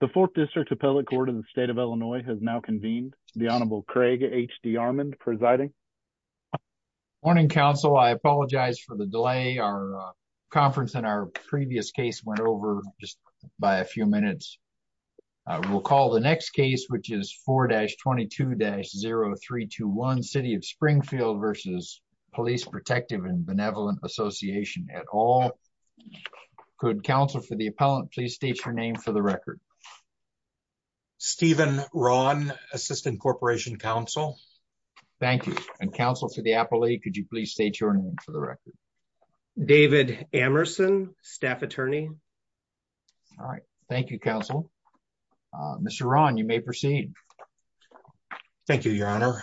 The 4th District Appellate Court of the State of Illinois has now convened. The Honorable Craig H.D. Armond presiding. Morning, Counsel. I apologize for the delay. Our conference and our previous case went over just by a few minutes. We'll call the next case, which is 4-22-0321, City of Springfield v. Police Protective and Benevolent Association et al. Could Counsel for the Appellant please state your name for the record? Steven Rahn, Assistant Corporation Counsel. Thank you. And Counsel for the Appellate, could you please state your name for the record? David Amerson, Staff Attorney. Thank you, Counsel. Mr. Rahn, you may proceed. Thank you, Your Honor.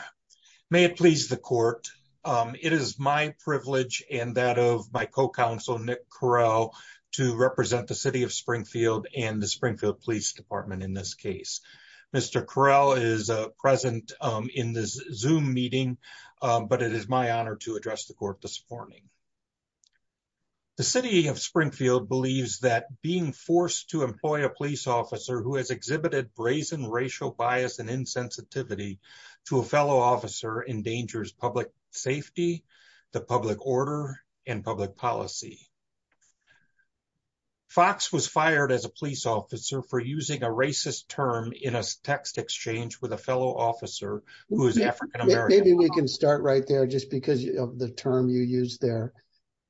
May it please the Court, it is my privilege and that of my co-counsel Nick Correll to represent the City of Springfield and the Springfield Police Department in this case. Mr. Correll is present in this Zoom meeting, but it is my honor to address the Court this morning. The City of Springfield believes that being forced to employ a police officer who has exhibited brazen racial bias and insensitivity to a fellow officer endangers public safety, the public order, and public policy. Fox was fired as a police officer for using a racist term in a text exchange with a fellow officer who is African American. Maybe we can start right there just because of the term you used there.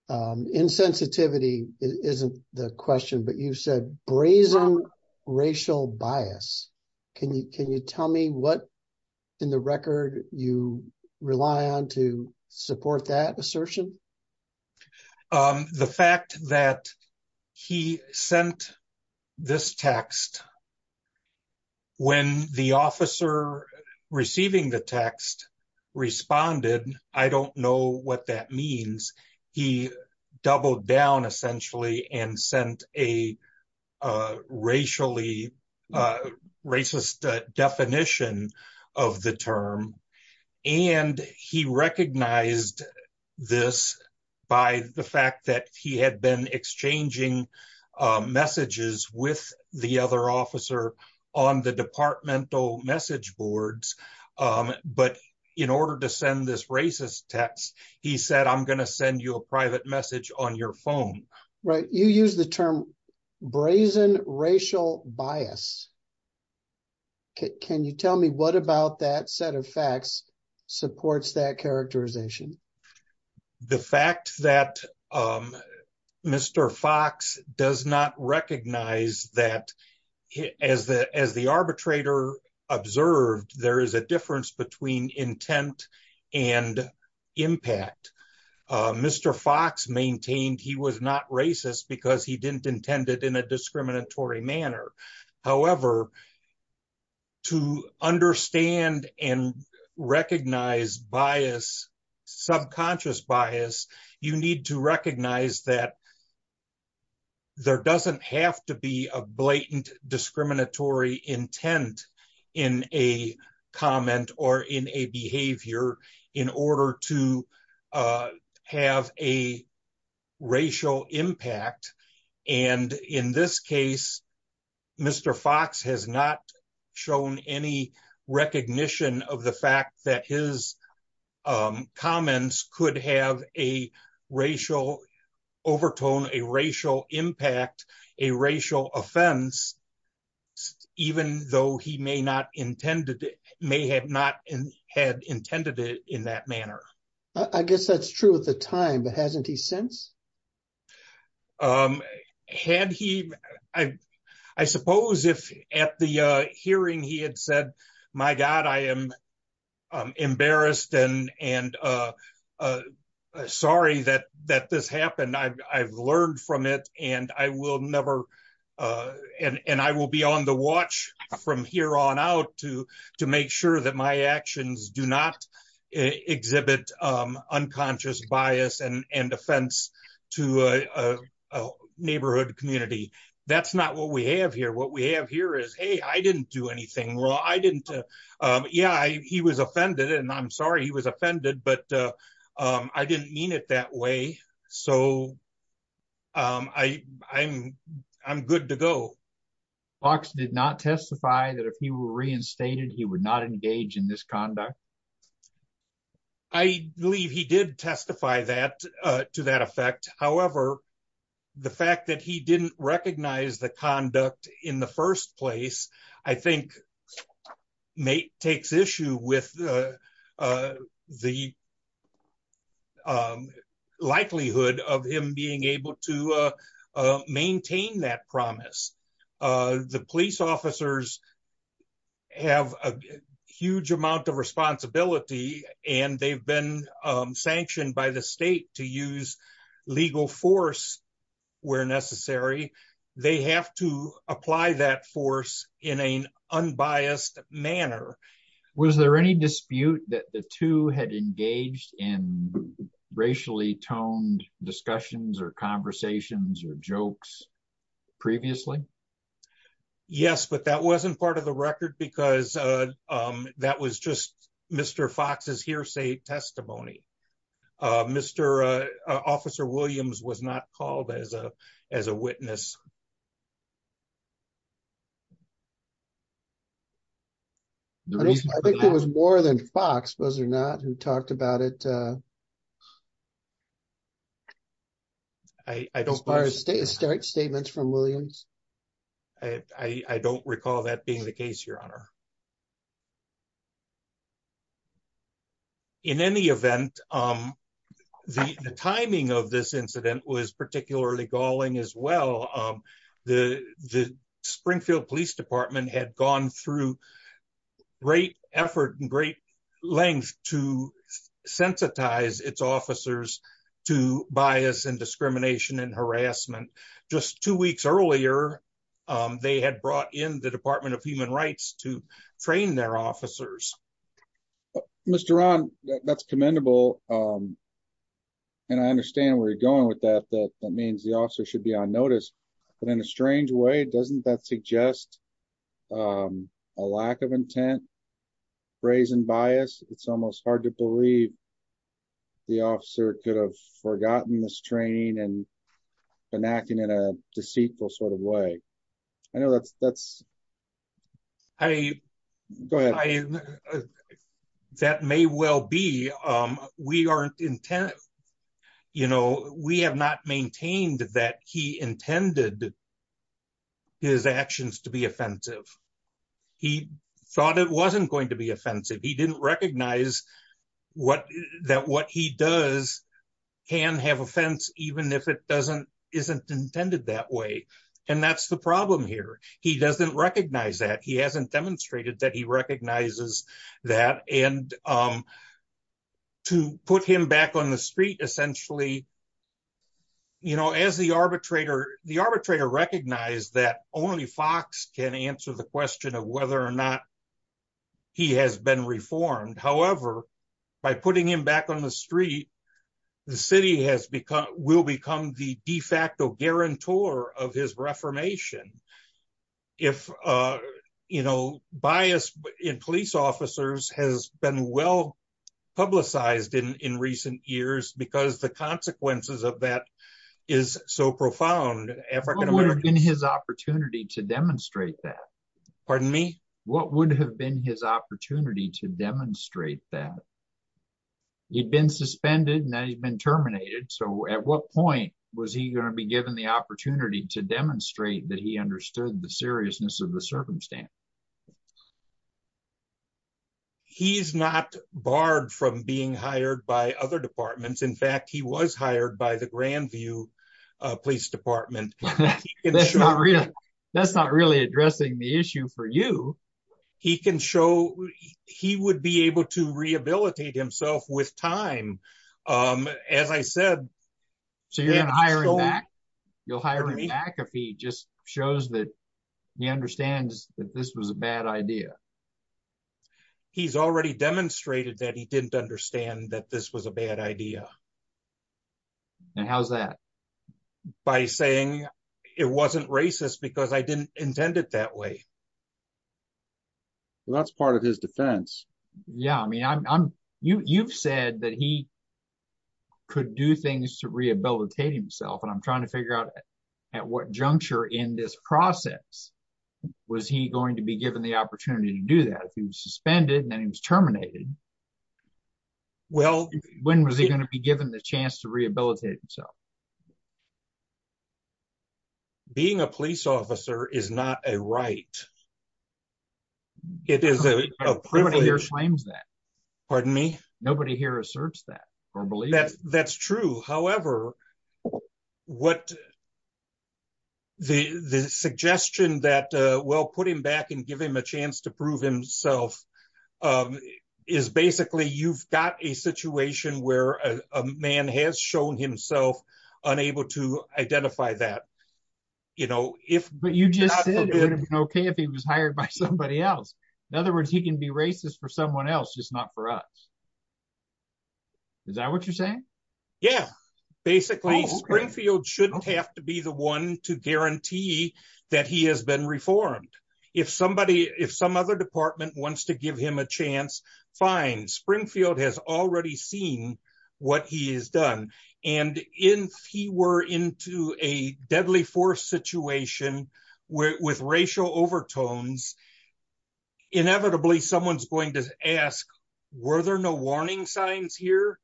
Insensitivity isn't the question, but you said brazen racial bias. Can you tell me what in the record you rely on to support that assertion? The fact that he sent this text, when the officer receiving the text responded, I don't know what that means. He doubled down essentially and sent a racially, racist definition of the term. And he recognized this by the fact that he had been exchanging messages with the other officer on the departmental message boards. But in order to send this racist text, he said, I'm going to send you a private message on your phone. Right. You use the term brazen racial bias. Can you tell me what about that set of facts supports that characterization? The fact that Mr. Fox does not recognize that as the arbitrator observed, there is a difference between intent and impact. Mr. Fox maintained he was not racist because he didn't intend it in a discriminatory manner. However, to understand and recognize bias, subconscious bias, you need to recognize that there doesn't have to be a blatant discriminatory intent in a comment or in a behavior in order to have a racial impact. And in this case, Mr. Fox has not shown any recognition of the fact that his comments could have a racial overtone, a racial impact, a racial offense, even though he may not intended, may have not had intended it in that manner. I guess that's true at the time, but hasn't he since? Had he, I suppose, if at the hearing he had said, my God, I am embarrassed and sorry that this happened, I've learned from it and I will never, and I will be on the watch from here on out to make sure that my actions do not exhibit unconscious bias and offense. To a neighborhood community, that's not what we have here. What we have here is, hey, I didn't do anything wrong. I didn't, yeah, he was offended and I'm sorry he was offended, but I didn't mean it that way. So, I'm good to go. Fox did not testify that if he were reinstated, he would not engage in this conduct? I believe he did testify that to that effect. However, the fact that he didn't recognize the conduct in the first place, I think, takes issue with the likelihood of him being able to maintain that promise. The police officers have a huge amount of responsibility and they've been sanctioned by the state to use legal force where necessary. They have to apply that force in an unbiased manner. Was there any dispute that the two had engaged in racially toned discussions or conversations or jokes previously? Yes, but that wasn't part of the record because that was just Mr. Fox's hearsay testimony. Officer Williams was not called as a witness. I think it was more than Fox, was it not, who talked about it? I don't recall that being the case, Your Honor. In any event, the timing of this incident was particularly galling as well. The Springfield Police Department had gone through great effort and great length to sensitize its officers to bias and discrimination and harassment. Just two weeks earlier, they had brought in the Department of Human Rights to train their officers. Mr. Ron, that's commendable and I understand where you're going with that. That means the officer should be on notice, but in a strange way, doesn't that suggest a lack of intent, brazen bias? It's almost hard to believe the officer could have forgotten this training and been acting in a deceitful sort of way. That may well be. We have not maintained that he intended his actions to be offensive. He thought it wasn't going to be offensive. He doesn't recognize that what he does can have offense even if it isn't intended that way. And that's the problem here. He doesn't recognize that. He hasn't demonstrated that he recognizes that. To put him back on the street, essentially, the arbitrator recognized that only Fox can answer the question of whether or not he has been reformed. However, by putting him back on the street, the city will become the de facto guarantor of his reformation. Bias in police officers has been well publicized in recent years because the consequences of that is so profound. What would have been his opportunity to demonstrate that? Pardon me? What would have been his opportunity to demonstrate that? He'd been suspended and now he's been terminated. So at what point was he going to be given the opportunity to demonstrate that he understood the seriousness of the circumstance? He's not barred from being hired by other departments. In fact, he was hired by the Grandview Police Department. That's not really addressing the issue for you. He can show he would be able to rehabilitate himself with time. As I said. So you're hiring back? You'll hire him back if he just shows that he understands that this was a bad idea. He's already demonstrated that he didn't understand that this was a bad idea. And how's that? By saying it wasn't racist because I didn't intend it that way. Well, that's part of his defense. Yeah, I mean, you've said that he could do things to rehabilitate himself. And I'm trying to figure out at what juncture in this process was he going to be given the opportunity to do that? If he was suspended and then he was terminated. Well. When was he going to be given the chance to rehabilitate himself? Being a police officer is not a right. It is a privilege. Nobody here claims that. Pardon me? Nobody here asserts that or believes that. That's true. However, what the suggestion that we'll put him back and give him a chance to prove himself. Is basically you've got a situation where a man has shown himself unable to identify that. But you just said it would have been okay if he was hired by somebody else. In other words, he can be racist for someone else, just not for us. Is that what you're saying? Yeah. Basically, Springfield shouldn't have to be the one to guarantee that he has been reformed. If somebody, if some other department wants to give him a chance, fine. Springfield has already seen what he has done. And if he were into a deadly force situation with racial overtones, inevitably someone's going to ask, were there no warning signs here?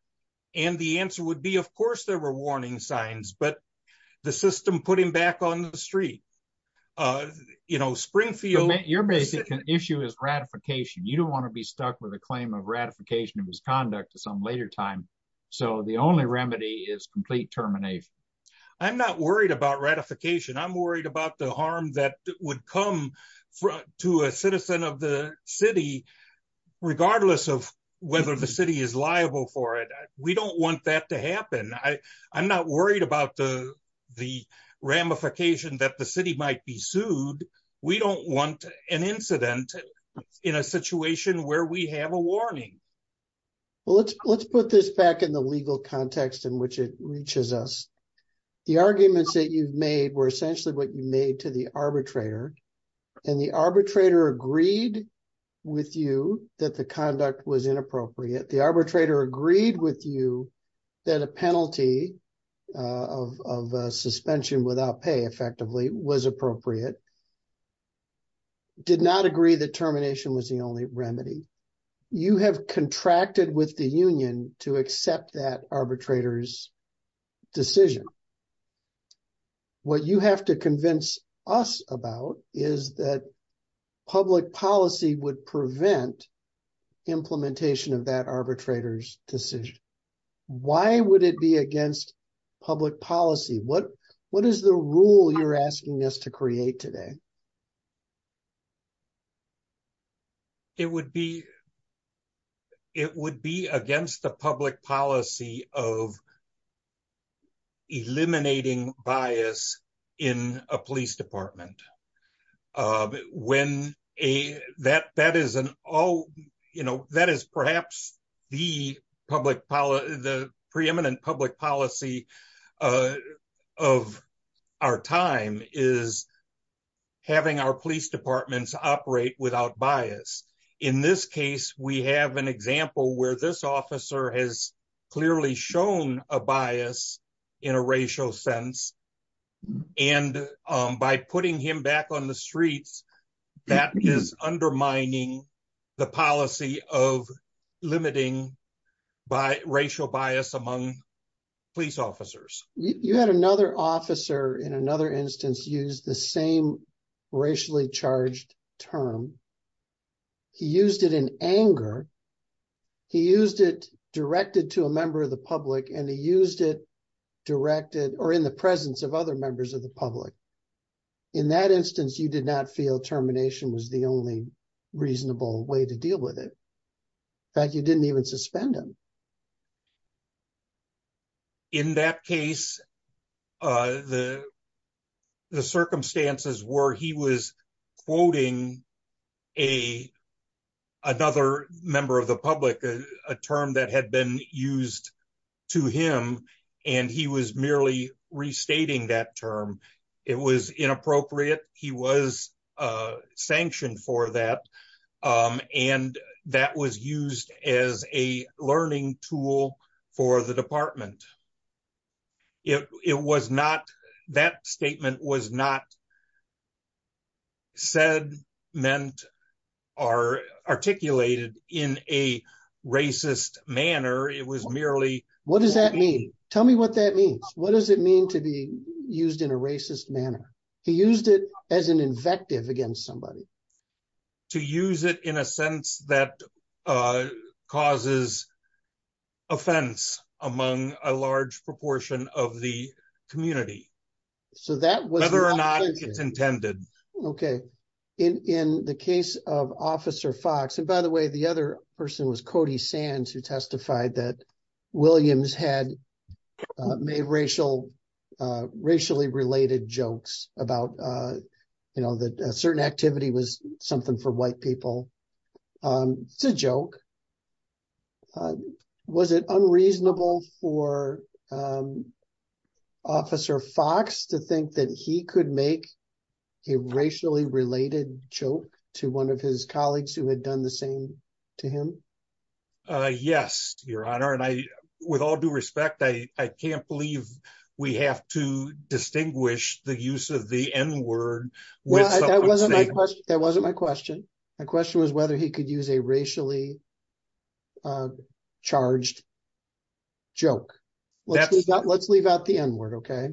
And the answer would be, of course, there were warning signs. But the system put him back on the street. You know, Springfield... Your basic issue is ratification. You don't want to be stuck with a claim of ratification of his conduct to some later time. So the only remedy is complete termination. I'm not worried about ratification. I'm worried about the harm that would come to a citizen of the city, regardless of whether the city is liable for it. We don't want that to happen. I'm not worried about the ramification that the city might be sued. We don't want an incident in a situation where we have a warning. Well, let's put this back in the legal context in which it reaches us. The arguments that you've made were essentially what you made to the arbitrator. And the arbitrator agreed with you that the conduct was inappropriate. The arbitrator agreed with you that a penalty of suspension without pay, effectively, was appropriate. Did not agree that termination was the only remedy. You have contracted with the union to accept that arbitrator's decision. What you have to convince us about is that public policy would prevent implementation of that arbitrator's decision. Why would it be against public policy? What is the rule you're asking us to create today? It would be against the public policy of eliminating bias in a police department. That is perhaps the preeminent public policy of our time is having our police departments operate without bias. In this case, we have an example where this officer has clearly shown a bias in a racial sense. And by putting him back on the streets, that is undermining the policy of limiting racial bias among police officers. You had another officer in another instance use the same racially charged term. He used it directed to a member of the public and he used it directed or in the presence of other members of the public. In that instance, you did not feel termination was the only reasonable way to deal with it. In fact, you didn't even suspend him. In that case, the circumstances were he was quoting another member of the public, a term that had been used to him, and he was merely restating that term. It was inappropriate. He was sanctioned for that. And that was used as a learning tool for the department. That statement was not said, meant, or articulated in a racist manner. What does that mean? Tell me what that means. What does it mean to be used in a racist manner? He used it as an invective against somebody. To use it in a sense that causes offense among a large proportion of the community. Whether or not it's intended. Okay. In the case of Officer Fox, and by the way, the other person was Cody Sands who testified that Williams had made racial, racially related jokes about, you know, that certain activity was something for white people. It's a joke. Was it unreasonable for Officer Fox to think that he could make a racially related joke to one of his colleagues who had done the same to him? Yes, Your Honor. And I, with all due respect, I can't believe we have to distinguish the use of the N word. That wasn't my question. My question was whether he could use a racially charged joke. Let's leave out the N word, okay?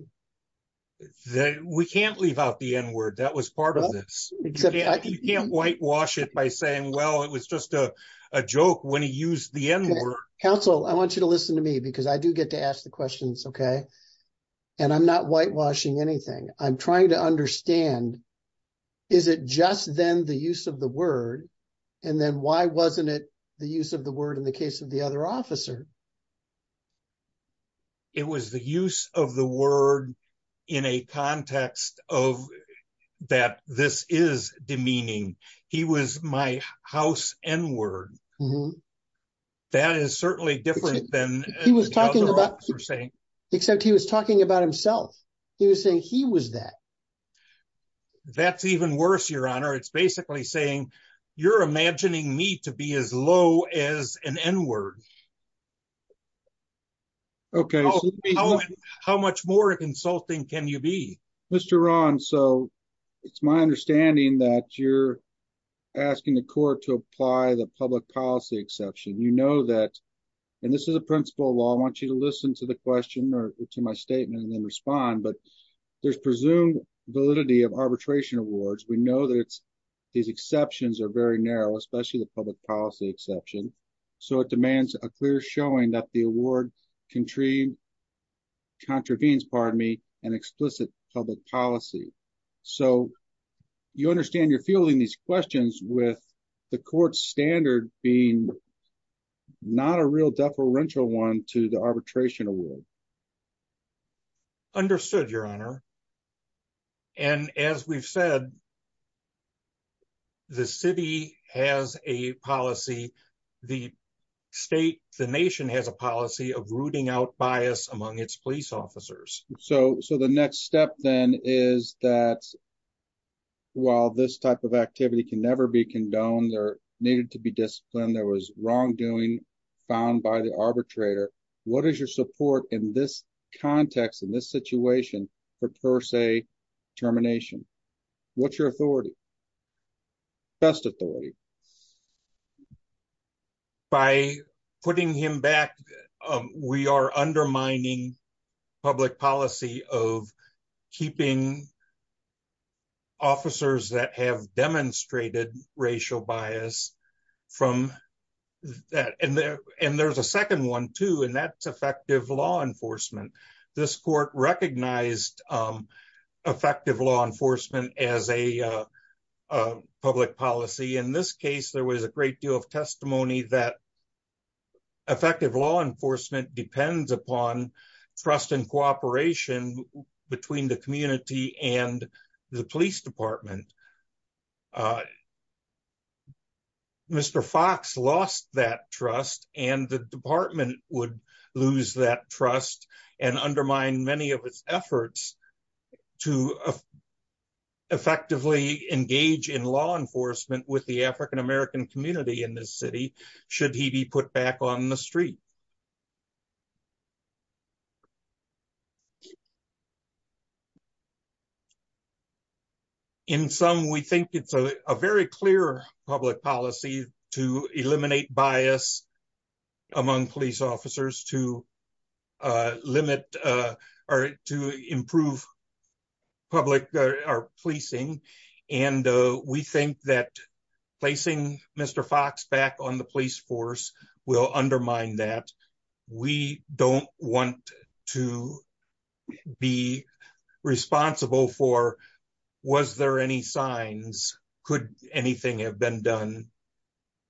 We can't leave out the N word. That was part of this. You can't whitewash it by saying, well, it was just a joke when he used the N word. Counsel, I want you to listen to me because I do get to ask the questions, okay? And I'm not whitewashing anything. I'm trying to understand, is it just then the use of the word, and then why wasn't it the use of the word in the case of the other officer? It was the use of the word in a context of that this is demeaning. He was my house N word. That is certainly different than the other officer saying. He was talking about himself. He was saying he was that. That's even worse, Your Honor. It's basically saying you're imagining me to be as low as an N word. Okay. How much more insulting can you be? Mr. Ron, so it's my understanding that you're asking the court to apply the public policy exception. You know that, and this is a principle of law. I want you to listen to the question or to my statement and then respond. But there's presumed validity of arbitration awards. We know that these exceptions are very narrow, especially the public policy exception. So, it demands a clear showing that the award contravenes an explicit public policy. So, you understand you're fielding these questions with the court standard being not a real deferential one to the arbitration award. Understood, Your Honor. And as we've said, the city has a policy, the state, the nation has a policy of rooting out bias among its police officers. So, the next step then is that while this type of activity can never be condoned or needed to be disciplined, there was wrongdoing found by the arbitrator. What is your support in this context, in this situation for per se termination? What's your authority? Best authority? By putting him back, we are undermining public policy of keeping officers that have demonstrated racial bias from that. And there's a second one too, and that's effective law enforcement. This court recognized effective law enforcement as a public policy. In this case, there was a great deal of testimony that effective law enforcement depends upon trust and cooperation between the community and the police department. Mr. Fox lost that trust and the department would lose that trust and undermine many of its efforts to effectively engage in law enforcement with the African American community in this city, should he be put back on the street. In sum, we think it's a very clear public policy to eliminate bias among police officers to limit or to improve public policing. And we think that placing Mr. Fox back on the police force will undermine that. We don't want to be responsible for, was there any signs? Could anything have been done?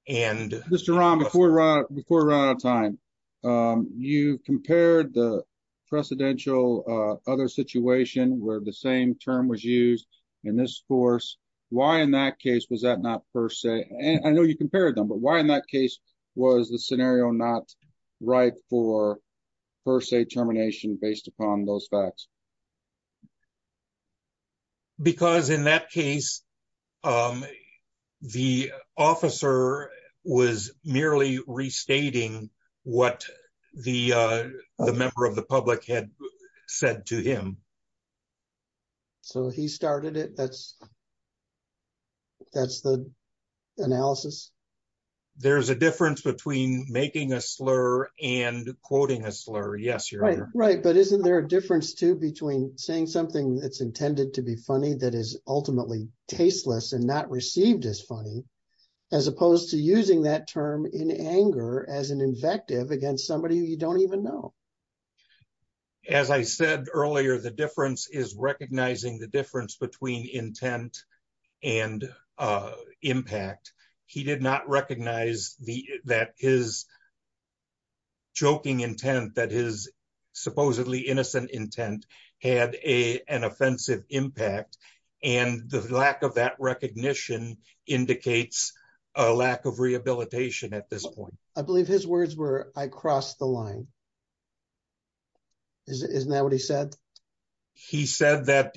Mr. Rahm, before we run out of time, you compared the precedential other situation where the same term was used in this force. Why in that case was that not per se? I know you compared them, but why in that case was the scenario not right for per se termination based upon those facts? Because in that case, the officer was merely restating what the member of the public had said to him. So he started it. That's the analysis. There's a difference between making a slur and quoting a slur. Yes, you're right. But isn't there a difference too between saying something that's intended to be funny that is ultimately tasteless and not received as funny, as opposed to using that term in anger as an invective against somebody who you don't even know? As I said earlier, the difference is recognizing the difference between intent and impact. He did not recognize that his joking intent, that his supposedly innocent intent, had an offensive impact. And the lack of that recognition indicates a lack of rehabilitation at this point. I believe his words were, I crossed the line. Isn't that what he said? He said that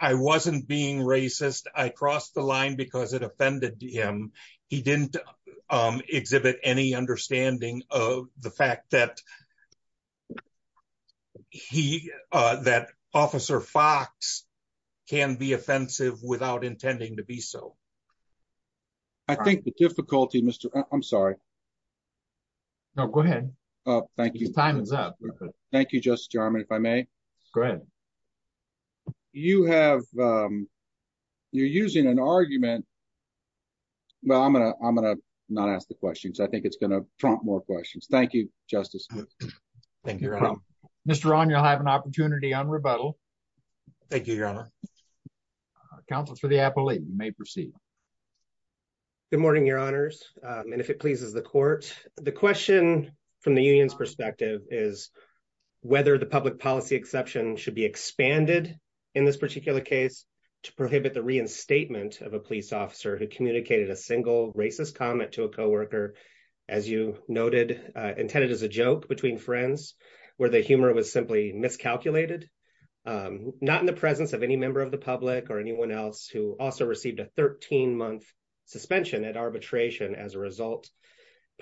I wasn't being racist. I crossed the line because it offended him. He didn't exhibit any understanding of the fact that he, that Officer Fox can be offensive without intending to be so. I think the difficulty, Mr. I'm sorry. No, go ahead. Thank you. Time is up. Thank you, Justice Jarman, if I may. Go ahead. You have, you're using an argument. Well, I'm going to, I'm going to not ask the questions. I think it's going to prompt more questions. Thank you, Justice. Thank you, Your Honor. Mr. Rahn, you'll have an opportunity on rebuttal. Thank you, Your Honor. Counsel for the appellate may proceed. Good morning, Your Honors. And if it pleases the court, the question from the union's perspective is whether the public policy exception should be expanded in this particular case to prohibit the reinstatement of a police officer who communicated a single racist comment to a co-worker, as you noted, intended as a joke between friends, where the humor was simply miscalculated. Not in the presence of any member of the public or anyone else who also received a 13-month suspension at arbitration as a result.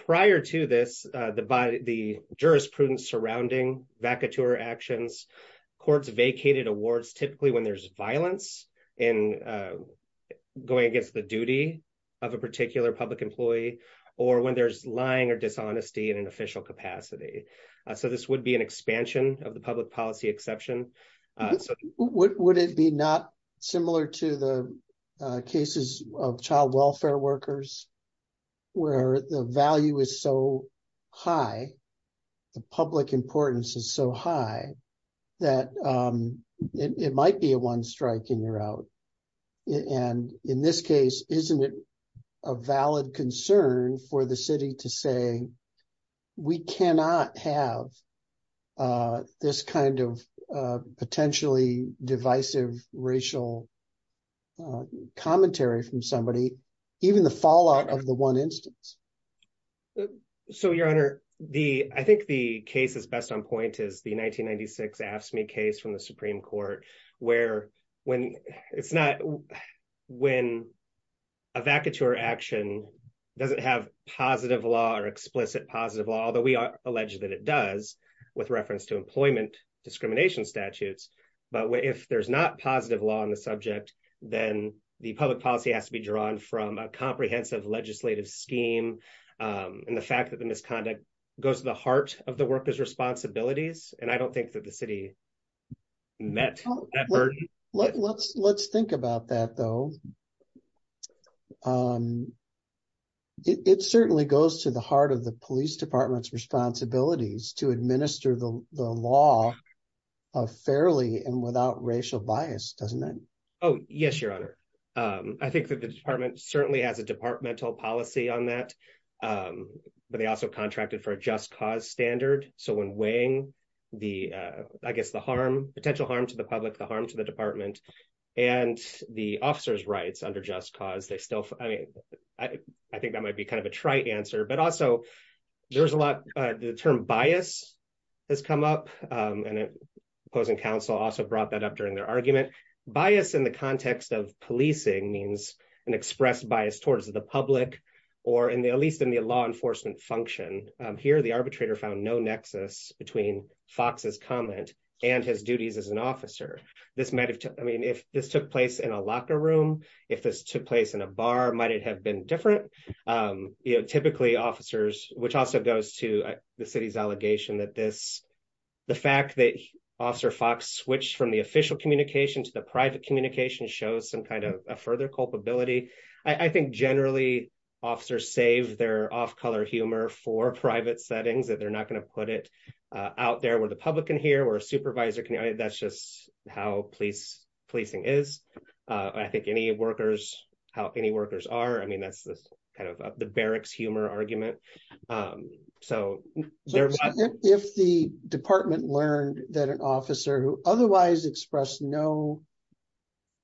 Prior to this, the jurisprudence surrounding vacateur actions, courts vacated awards typically when there's violence in going against the duty of a particular public employee or when there's lying or dishonesty in an official capacity. So this would be an expansion of the public policy exception. Would it be not similar to the cases of child welfare workers, where the value is so high, the public importance is so high, that it might be a one strike and you're out? And in this case, isn't it a valid concern for the city to say, we cannot have this kind of potentially divisive racial commentary from somebody, even the fallout of the one instance? So, Your Honor, I think the case that's best on point is the 1996 AFSCME case from the Supreme Court, where when a vacateur action doesn't have positive law or explicit positive law, although we are alleged that it does, with reference to employment discrimination statutes. But if there's not positive law on the subject, then the public policy has to be drawn from a comprehensive legislative scheme. And the fact that the misconduct goes to the heart of the workers' responsibilities, and I don't think that the city met that burden. Let's think about that, though. It certainly goes to the heart of the police department's responsibilities to administer the law fairly and without racial bias, doesn't it? Oh, yes, Your Honor. I think that the department certainly has a departmental policy on that, but they also contracted for a just cause standard. So when weighing the, I guess, the potential harm to the public, the harm to the department, and the officer's rights under just cause, I think that might be kind of a trite answer. But also, there's a lot, the term bias has come up, and opposing counsel also brought that up during their argument. Bias in the context of policing means an expressed bias towards the public, or at least in the law enforcement function. Here, the arbitrator found no nexus between Fox's comment and his duties as an officer. This might have, I mean, if this took place in a locker room, if this took place in a bar, might it have been different? Typically, officers, which also goes to the city's allegation that this, the fact that Officer Fox switched from the official communication to the private communication shows some kind of a further culpability. I think generally, officers save their off-color humor for private settings, that they're not going to put it out there where the public can hear, where a supervisor can hear. That's just how policing is. I think any workers, how any workers are, I mean, that's kind of the barracks humor argument. So, if the department learned that an officer who otherwise expressed no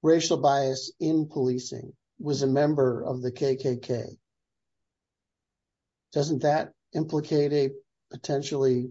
racial bias in policing was a member of the KKK, doesn't that implicate a potentially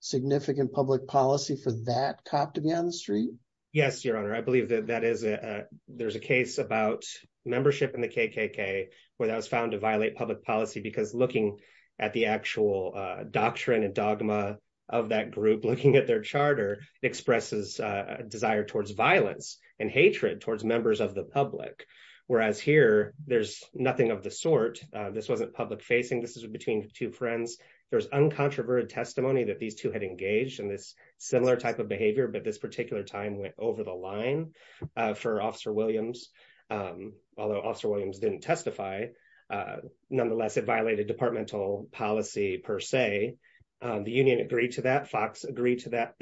significant public policy for that cop to be on the street? Yes, Your Honor, I believe that that is a, there's a case about membership in the KKK where that was found to violate public policy because looking at the actual doctrine and dogma of that group, looking at their charter, expresses a desire towards violence and hatred towards members of the public. Whereas here, there's nothing of the sort. This wasn't public facing, this is between two friends. There's uncontroverted testimony that these two had engaged in this similar type of behavior, but this particular time went over the line for Officer Williams. Although Officer Williams didn't testify. Nonetheless, it violated departmental policy per se. The union agreed to that, Fox agreed to that.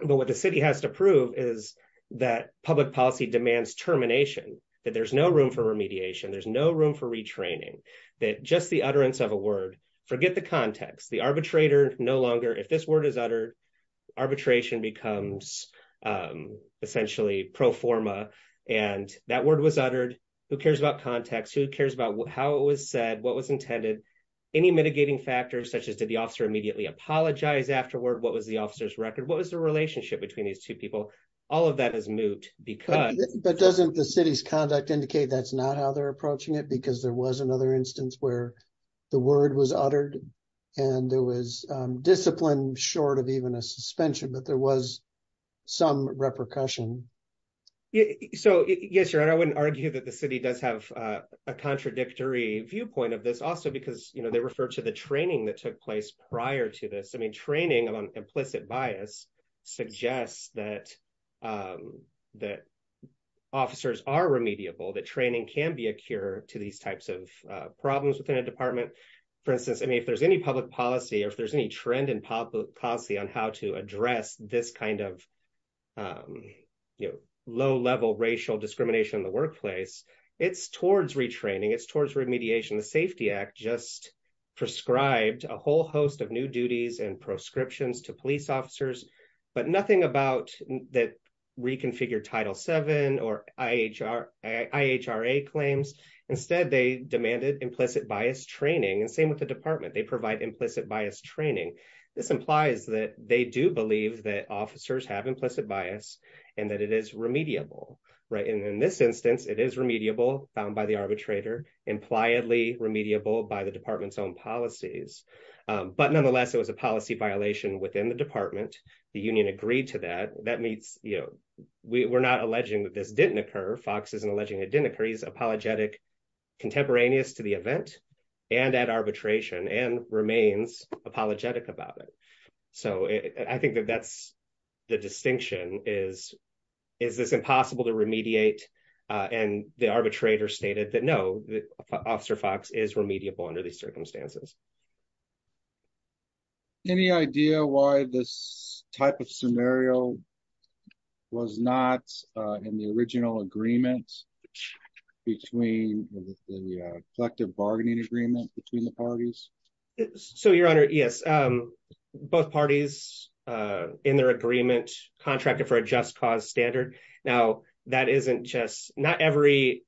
But what the city has to prove is that public policy demands termination, that there's no room for remediation, there's no room for retraining, that just the utterance of a word. Forget the context, the arbitrator no longer, if this word is uttered, arbitration becomes essentially pro forma, and that word was uttered, who cares about context, who cares about how it was said, what was intended. Any mitigating factors such as did the officer immediately apologize afterward, what was the officer's record, what was the relationship between these two people, all of that is moot. But doesn't the city's conduct indicate that's not how they're approaching it because there was another instance where the word was uttered, and there was discipline, short of even a suspension, but there was some repercussion. So, yes, your honor, I wouldn't argue that the city does have a contradictory viewpoint of this also because, you know, they refer to the training that took place prior to this. I mean, training on implicit bias suggests that officers are remediable, that training can be a cure to these types of problems within a department. For instance, I mean, if there's any public policy or if there's any trend in policy on how to address this kind of, you know, low-level racial discrimination in the workplace, it's towards retraining, it's towards remediation. The Safety Act just prescribed a whole host of new duties and prescriptions to police officers, but nothing about that reconfigured Title VII or IHRA claims. Instead, they demanded implicit bias training, and same with the department. They provide implicit bias training. This implies that they do believe that officers have implicit bias and that it is remediable, right? And in this instance, it is remediable, found by the arbitrator, impliedly remediable by the department's own policies, but nonetheless, it was a policy violation within the department. The union agreed to that. That means, you know, we're not alleging that this didn't occur. Fox isn't alleging it didn't occur. He's apologetic contemporaneous to the event and at arbitration and remains apologetic about it. So I think that that's the distinction is, is this impossible to remediate? And the arbitrator stated that, no, Officer Fox is remediable under these circumstances. Any idea why this type of scenario was not in the original agreement between the collective bargaining agreement between the parties? So, Your Honor, yes, both parties in their agreement contracted for a just cause standard. Now, that isn't just not every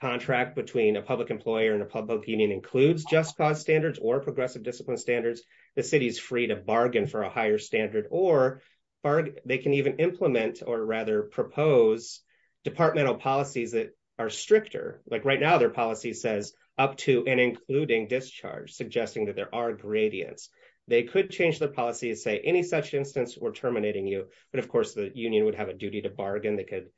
contract between a public employer and a public union includes just cause standards or progressive discipline standards. The city is free to bargain for a higher standard or they can even implement or rather propose departmental policies that are stricter. Like right now, their policy says up to and including discharge, suggesting that there are gradients. They could change their policy and say any such instance we're terminating you. But of course, the union would have a duty to bargain. They could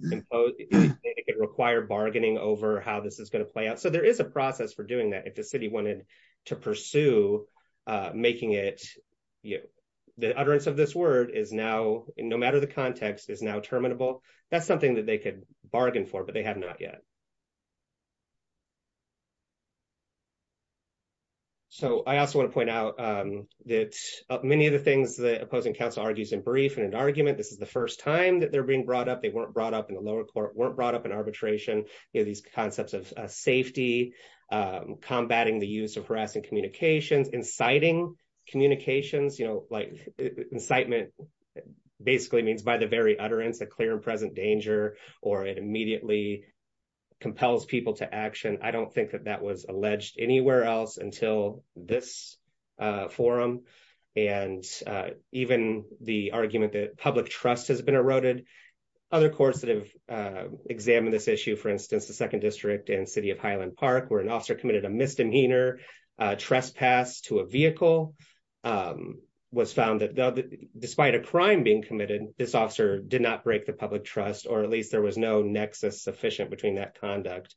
impose it require bargaining over how this is going to play out. So there is a process for doing that. If the city wanted to pursue making it, you know, the utterance of this word is now no matter the context is now terminable. That's something that they could bargain for, but they have not yet. So I also want to point out that many of the things that opposing counsel argues in brief and an argument, this is the first time that they're being brought up. They weren't brought up in the lower court, weren't brought up in arbitration. These concepts of safety, combating the use of harassing communications, inciting communications, you know, like incitement. Basically means by the very utterance a clear and present danger, or it immediately compels people to action. I don't think that that was alleged anywhere else until this forum. And even the argument that public trust has been eroded. Other courts that have examined this issue, for instance, the second district and city of Highland Park where an officer committed a misdemeanor trespass to a vehicle. Was found that despite a crime being committed, this officer did not break the public trust or at least there was no nexus sufficient between that conduct.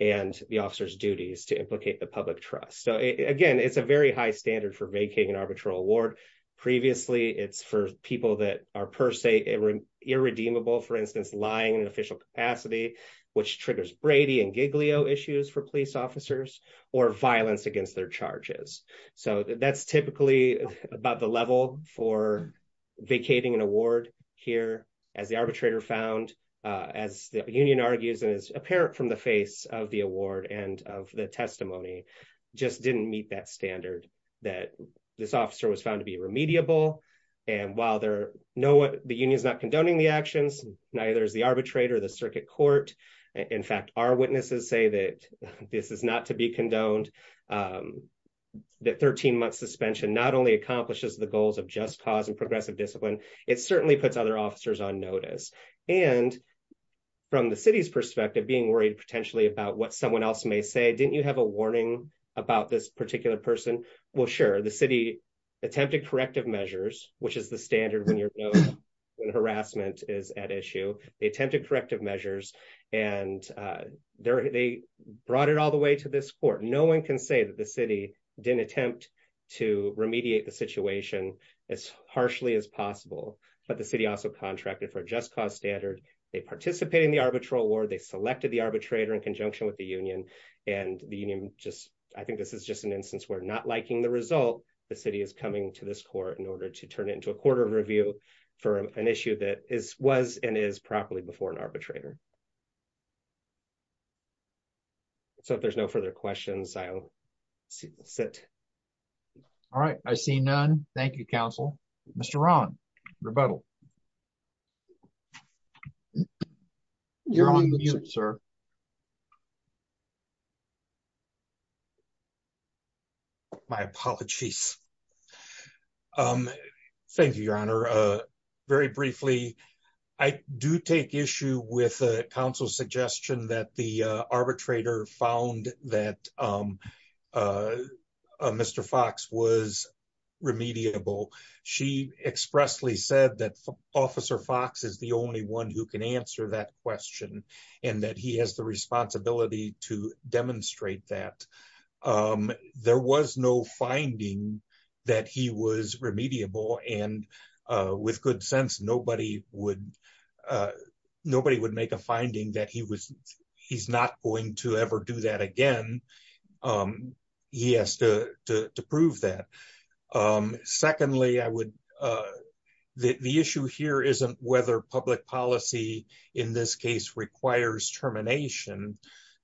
And the officers duties to implicate the public trust. So again, it's a very high standard for making an arbitral award. Previously, it's for people that are per se irredeemable, for instance, lying and official capacity, which triggers Brady and Giglio issues for police officers or violence against their charges. So that's typically about the level for vacating an award here as the arbitrator found as the union argues and is apparent from the face of the award and of the testimony just didn't meet that standard that this officer was found to be remediable. And while there know what the union is not condoning the actions, neither is the arbitrator, the circuit court. In fact, our witnesses say that this is not to be condoned. That 13 months suspension not only accomplishes the goals of just cause and progressive discipline. It certainly puts other officers on notice and. From the city's perspective, being worried potentially about what someone else may say, didn't you have a warning about this particular person. Well, sure, the city attempted corrective measures, which is the standard when you're in harassment is at issue, they attempted corrective measures, and they brought it all the way to this court. No one can say that the city didn't attempt to remediate the situation as harshly as possible, but the city also contracted for just cause standard. They participate in the arbitral award they selected the arbitrator in conjunction with the union, and the union, just, I think this is just an instance where not liking the result. The city is coming to this court in order to turn it into a quarter review for an issue that is was and is properly before an arbitrator. So if there's no further questions I'll sit. All right, I see none. Thank you, Council, Mr Ron rebuttal. You're on mute, sir. My apologies. Thank you, Your Honor. Very briefly, I do take issue with the council suggestion that the arbitrator found that Mr Fox was remediable. She expressly said that officer Fox is the only one who can answer that question, and that he has the responsibility to demonstrate that there was no finding that he was remediable and with good sense nobody would nobody would make a finding that he was. He's not going to ever do that again. He has to prove that. Secondly, I would. The issue here isn't whether public policy in this case requires termination.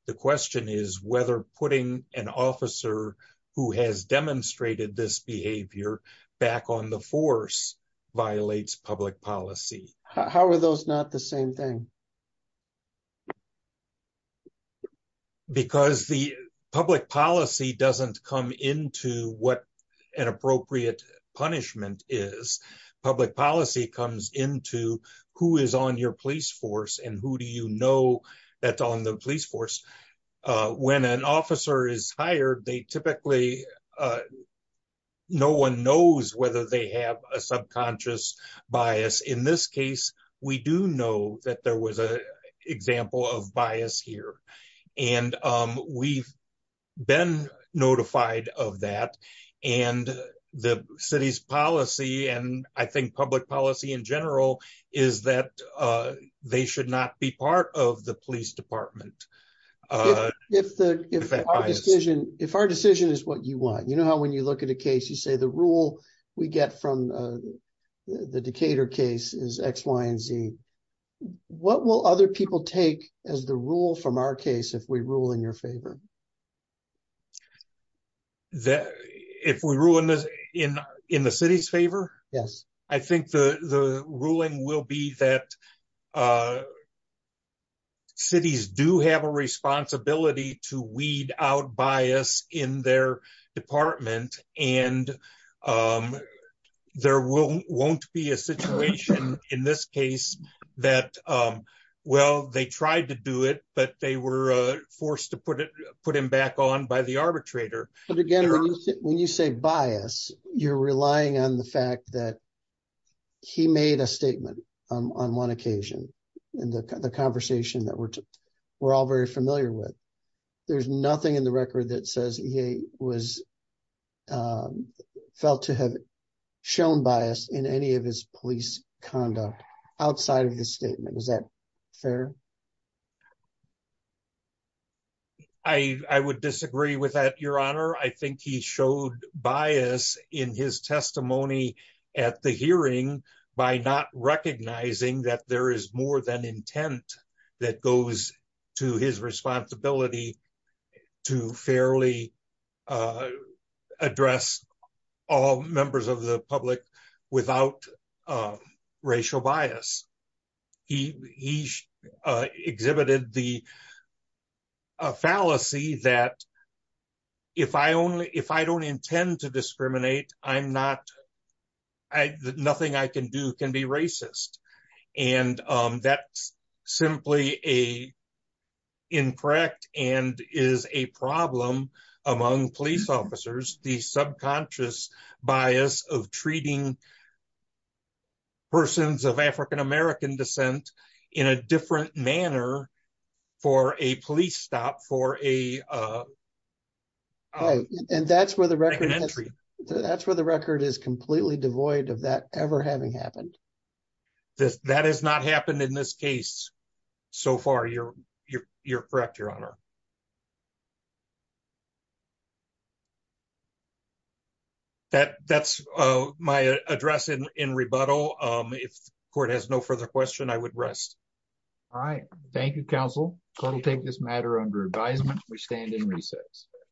The question is whether putting an officer who has demonstrated this behavior back on the force violates public policy, how are those not the same thing. Because the public policy doesn't come into what an appropriate punishment is public policy comes into who is on your police force and who do you know that on the police force. When an officer is hired they typically no one knows whether they have a subconscious bias in this case, we do know that there was a example of bias here. And we've been notified of that. And the city's policy and I think public policy in general, is that they should not be part of the police department. If the decision, if our decision is what you want you know how when you look at a case you say the rule, we get from the Decatur case is X, Y, and Z. What will other people take as the rule from our case if we rule in your favor. That if we ruin this in in the city's favor. Yes, I think the ruling will be that cities do have a responsibility to weed out bias in their department, and there will won't be a situation in this case that. Well, they tried to do it, but they were forced to put it, put him back on by the arbitrator. When you say bias, you're relying on the fact that he made a statement on one occasion, and the conversation that we're, we're all very familiar with. There's nothing in the record that says he was felt to have shown bias in any of his police conduct outside of the statement was that fair. I would disagree with that, Your Honor, I think he showed bias in his testimony at the hearing by not recognizing that there is more than intent that goes to his responsibility to fairly address all members of the public, without racial bias. He exhibited the fallacy that if I only, if I don't intend to discriminate, I'm not, nothing I can do can be racist. And that's simply a incorrect and is a problem among police officers, the subconscious bias of treating persons of African American descent in a different manner for a police stop for a. And that's where the record entry. That's where the record is completely devoid of that ever having happened. That has not happened in this case. So far, you're, you're, you're correct, Your Honor. That that's my address in rebuttal. If court has no further question I would rest. All right. Thank you, counsel, take this matter under advisement, we stand in recess.